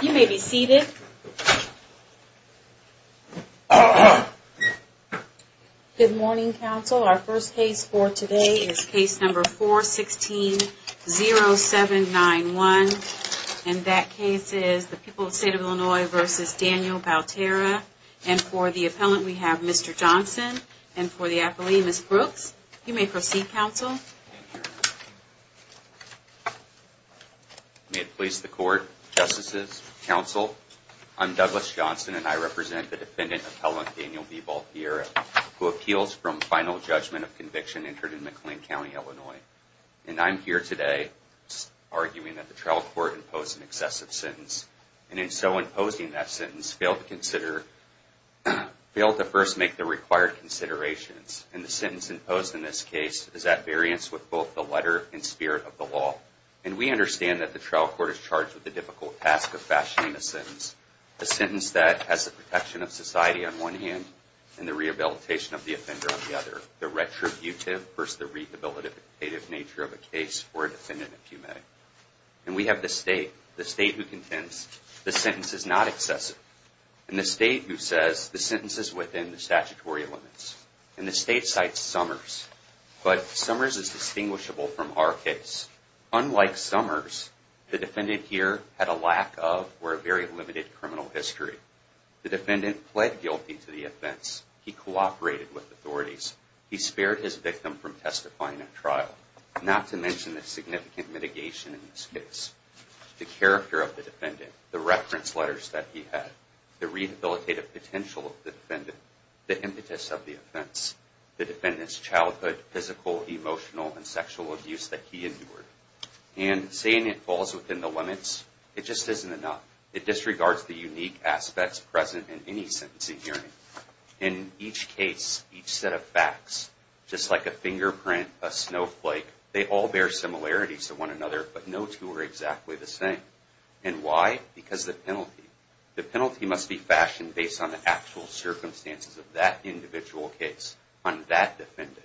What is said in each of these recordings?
You may be seated. Good morning, counsel. Our first case for today is case number 416-0791, and that case is the people of the state of Illinois v. Daniel Baltierra, and for the appellant we have Mr. Johnson, and for the appellee, Ms. Brooks. You may proceed, counsel. Thank you. May it please the court, justices, counsel, I'm Douglas Johnson, and I represent the defendant, appellant Daniel v. Baltierra, who appeals from final judgment of conviction entered in McLean County, Illinois. And I'm here today arguing that the trial court imposed an excessive sentence, and in so imposing that sentence, failed to first make the required considerations. And the sentence imposed in this case is at variance with both the letter and spirit of the law. And we understand that the trial court is charged with the difficult task of fashioning a sentence, a sentence that has the protection of society on one hand, and the rehabilitation of the offender on the other. The retributive versus the rehabilitative nature of a case for a defendant, if you may. And we have the state, the state who contends the sentence is not excessive, and the state who says the sentence is within the statutory limits. And the state cites Summers. But Summers is distinguishable from our case. Unlike Summers, the defendant here had a lack of or a very limited criminal history. The defendant pled guilty to the offense. He cooperated with authorities. He spared his victim from testifying at trial, not to mention the significant mitigation in this case. The character of the defendant, the reference letters that he had, the rehabilitative potential of the defendant, the impetus of the offense, the defendant's childhood, physical, emotional, and sexual abuse that he endured. And saying it falls within the limits, it just isn't enough. It disregards the unique aspects present in any sentencing hearing. In each case, each set of facts, just like a fingerprint, a snowflake, they all bear similarities to one another, but no two are exactly the same. And why? Because of the penalty. The penalty must be fashioned based on the actual circumstances of that individual case, on that defendant.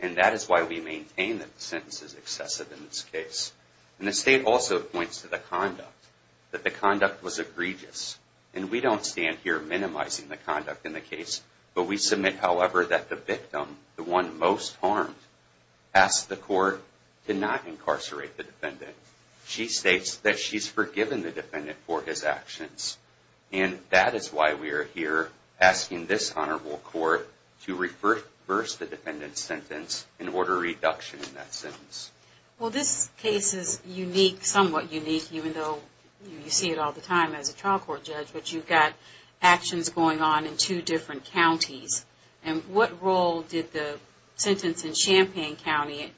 And that is why we maintain that the sentence is excessive in this case. And the state also points to the conduct, that the conduct was egregious. And we don't stand here minimizing the conduct in the case, but we submit, however, that the victim, the one most harmed, asked the court to not incarcerate the defendant. She states that she's forgiven the defendant for his actions. And that is why we are here asking this honorable court to reverse the defendant's sentence and order a reduction in that sentence. Well, this case is unique, somewhat unique, even though you see it all the time as a trial court judge. But you've got actions going on in two different counties. And what role did the sentence in Champaign County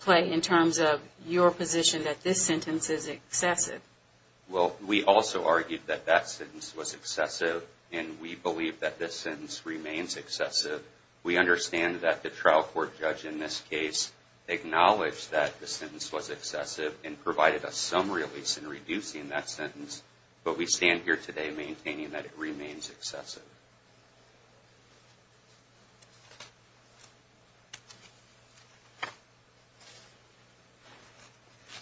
play in terms of your position that this sentence is excessive? Well, we also argued that that sentence was excessive, and we believe that this sentence remains excessive. We understand that the trial court judge in this case acknowledged that the sentence was excessive and provided us some release in reducing that sentence. But we stand here today maintaining that it remains excessive.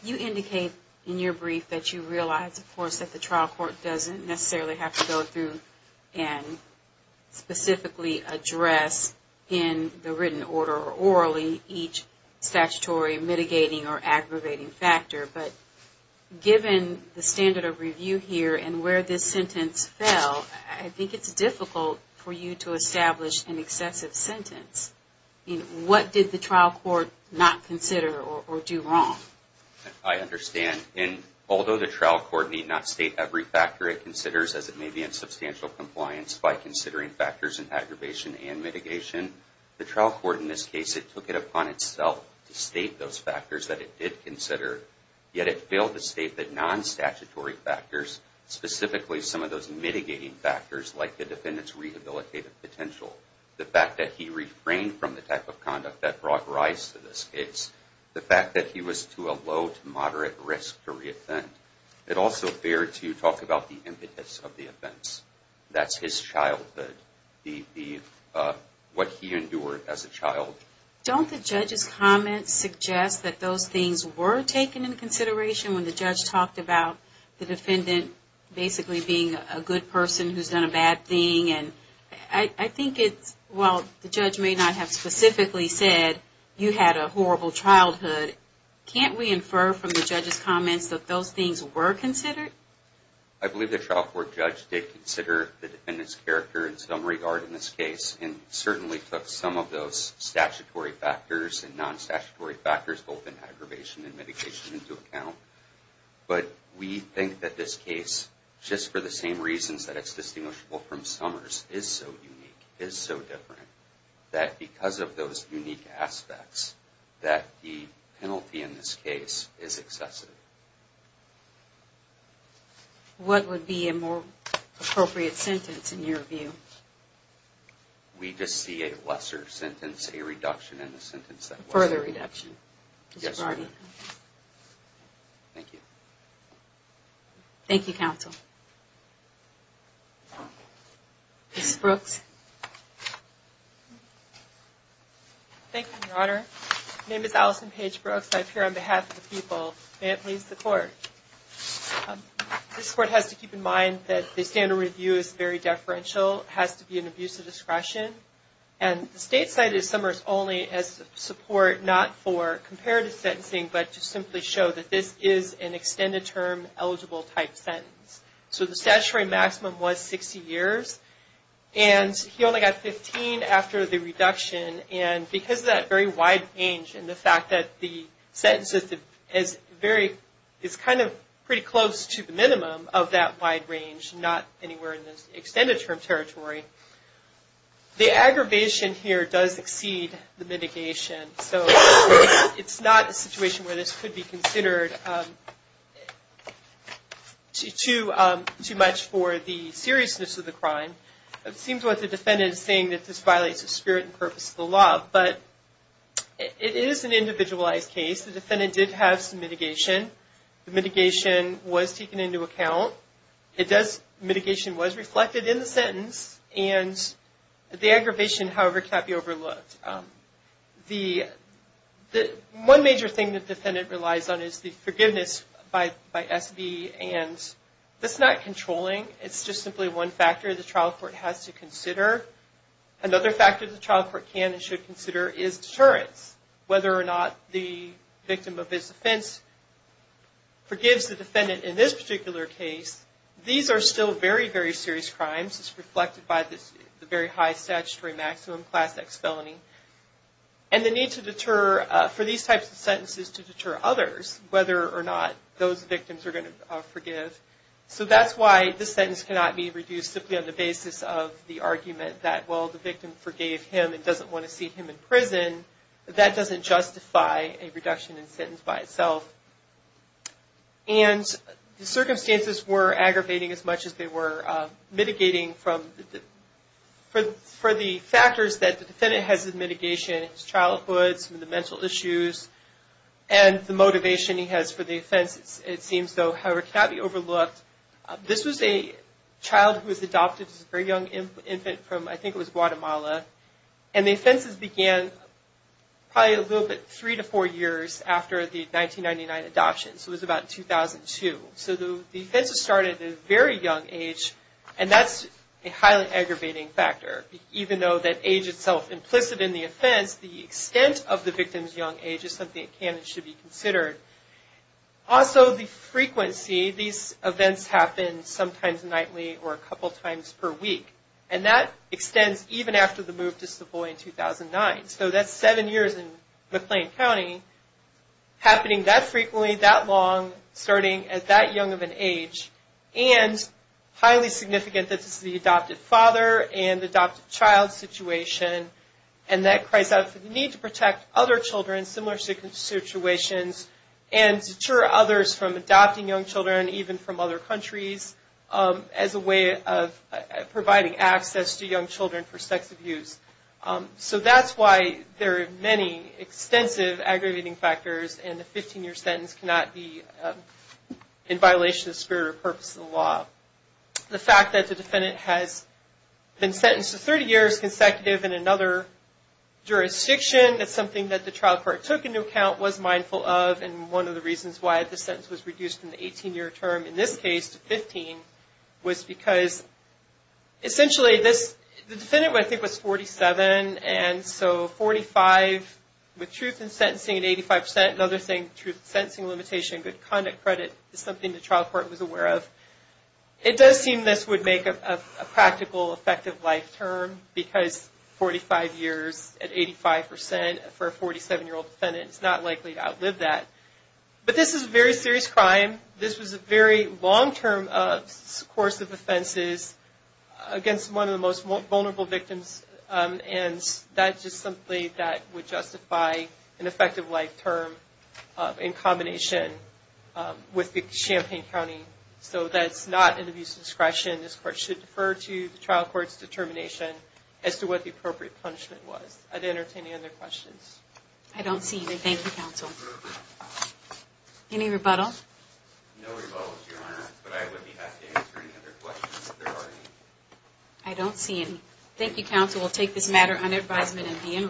You indicate in your brief that you realize, of course, that the trial court doesn't necessarily have to go through and specifically address in the written order or orally each statutory mitigating or aggravating factor. But given the standard of review here and where this sentence fell, I think it's difficult for you to establish an excessive sentence. What did the trial court not consider or do wrong? I understand. And although the trial court need not state every factor it considers, as it may be in substantial compliance, by considering factors in aggravation and mitigation, the trial court in this case, it took it upon itself to state those factors that it did consider. Yet it failed to state that non-statutory factors, specifically some of those mitigating factors like the defendant's rehabilitative potential, the fact that he refrained from the type of conduct that brought rise to this case, the fact that he was to a low to moderate risk to re-offend. It also fared to talk about the impetus of the offense. That's his childhood, what he endured as a child. Don't the judge's comments suggest that those things were taken into consideration when the judge talked about the defendant basically being a good person who's done a bad thing? And I think it's, while the judge may not have specifically said, you had a horrible childhood, can't we infer from the judge's comments that those things were considered? I believe the trial court judge did consider the defendant's character in some regard in this case. And certainly took some of those statutory factors and non-statutory factors, both in aggravation and mitigation, into account. But we think that this case, just for the same reasons that it's distinguishable from Summers, is so unique, is so different, that because of those unique aspects, that the penalty in this case is excessive. What would be a more appropriate sentence in your view? We just see a lesser sentence, a reduction in the sentence. Further reduction. Yes, ma'am. Thank you. Thank you, counsel. Ms. Brooks. Thank you, Your Honor. My name is Allison Paige Brooks. I appear on behalf of the people. May it please the Court. This Court has to keep in mind that the standard review is very deferential. It has to be an abuse of discretion. And the State cited Summers only as support, not for comparative sentencing, but to simply show that this is an extended term eligible type sentence. So the statutory maximum was 60 years. And he only got 15 after the reduction. And because of that very wide range, and the fact that the sentence is kind of pretty close to the minimum of that wide range, not anywhere in the extended term territory, the aggravation here does exceed the mitigation. So it's not a situation where this could be considered too much for the seriousness of the crime. It seems like the defendant is saying that this violates the spirit and purpose of the law. But it is an individualized case. The defendant did have some mitigation. The mitigation was taken into account. Mitigation was reflected in the sentence. And the aggravation, however, can't be overlooked. One major thing the defendant relies on is the forgiveness by SB. And that's not controlling. It's just simply one factor. The trial court has to consider. Another factor the trial court can and should consider is deterrence, whether or not the victim of this offense forgives the defendant in this particular case. These are still very, very serious crimes. It's reflected by the very high statutory maximum, Class X felony. And the need to deter for these types of sentences to deter others, whether or not those victims are going to forgive. So that's why this sentence cannot be reduced simply on the basis of the argument that, well, the victim forgave him and doesn't want to see him in prison. That doesn't justify a reduction in sentence by itself. And the circumstances were aggravating as much as they were mitigating for the factors that the defendant has in mitigation, his childhood, some of the mental issues, and the motivation he has for the offense. It seems, though, however, cannot be overlooked. This was a child who was adopted. This was a very young infant from, I think it was Guatemala. And the offenses began probably a little bit three to four years after the 1999 adoption. So it was about 2002. So the offenses started at a very young age, and that's a highly aggravating factor. Even though that age itself implicit in the offense, the extent of the victim's young age is something that can and should be considered. Also, the frequency, these events happen sometimes nightly or a couple times per week, and that extends even after the move to Savoy in 2009. So that's seven years in McLean County, happening that frequently, that long, starting at that young of an age, and highly significant that this is the adopted father and adopted child situation, and that cries out for the need to protect other children in similar situations and deter others from adopting young children, even from other countries, as a way of providing access to young children for sex abuse. So that's why there are many extensive aggravating factors, and the 15-year sentence cannot be in violation of the spirit or purpose of the law. The fact that the defendant has been sentenced to 30 years consecutive in another jurisdiction, that's something that the trial court took into account, was mindful of, and one of the reasons why the sentence was reduced in the 18-year term, in this case, to 15, was because, essentially, the defendant, I think, was 47, and so 45 with truth in sentencing at 85 percent, another thing, truth in sentencing limitation, good conduct credit, is something the trial court was aware of. It does seem this would make a practical, effective life term, because 45 years at 85 percent for a 47-year-old defendant is not likely to outlive that. But this is a very serious crime. This was a very long-term course of offenses against one of the most vulnerable victims, and that's just something that would justify an effective life term in combination with the Champaign County. So that's not an abuse of discretion. This court should defer to the trial court's determination as to what the appropriate punishment was. Are there any other questions? I don't see any. Thank you, counsel. Any rebuttals? No rebuttals, Your Honor, but I would be happy to answer any other questions if there are any. I don't see any. Thank you, counsel. We'll take this matter under advisement and be in recess.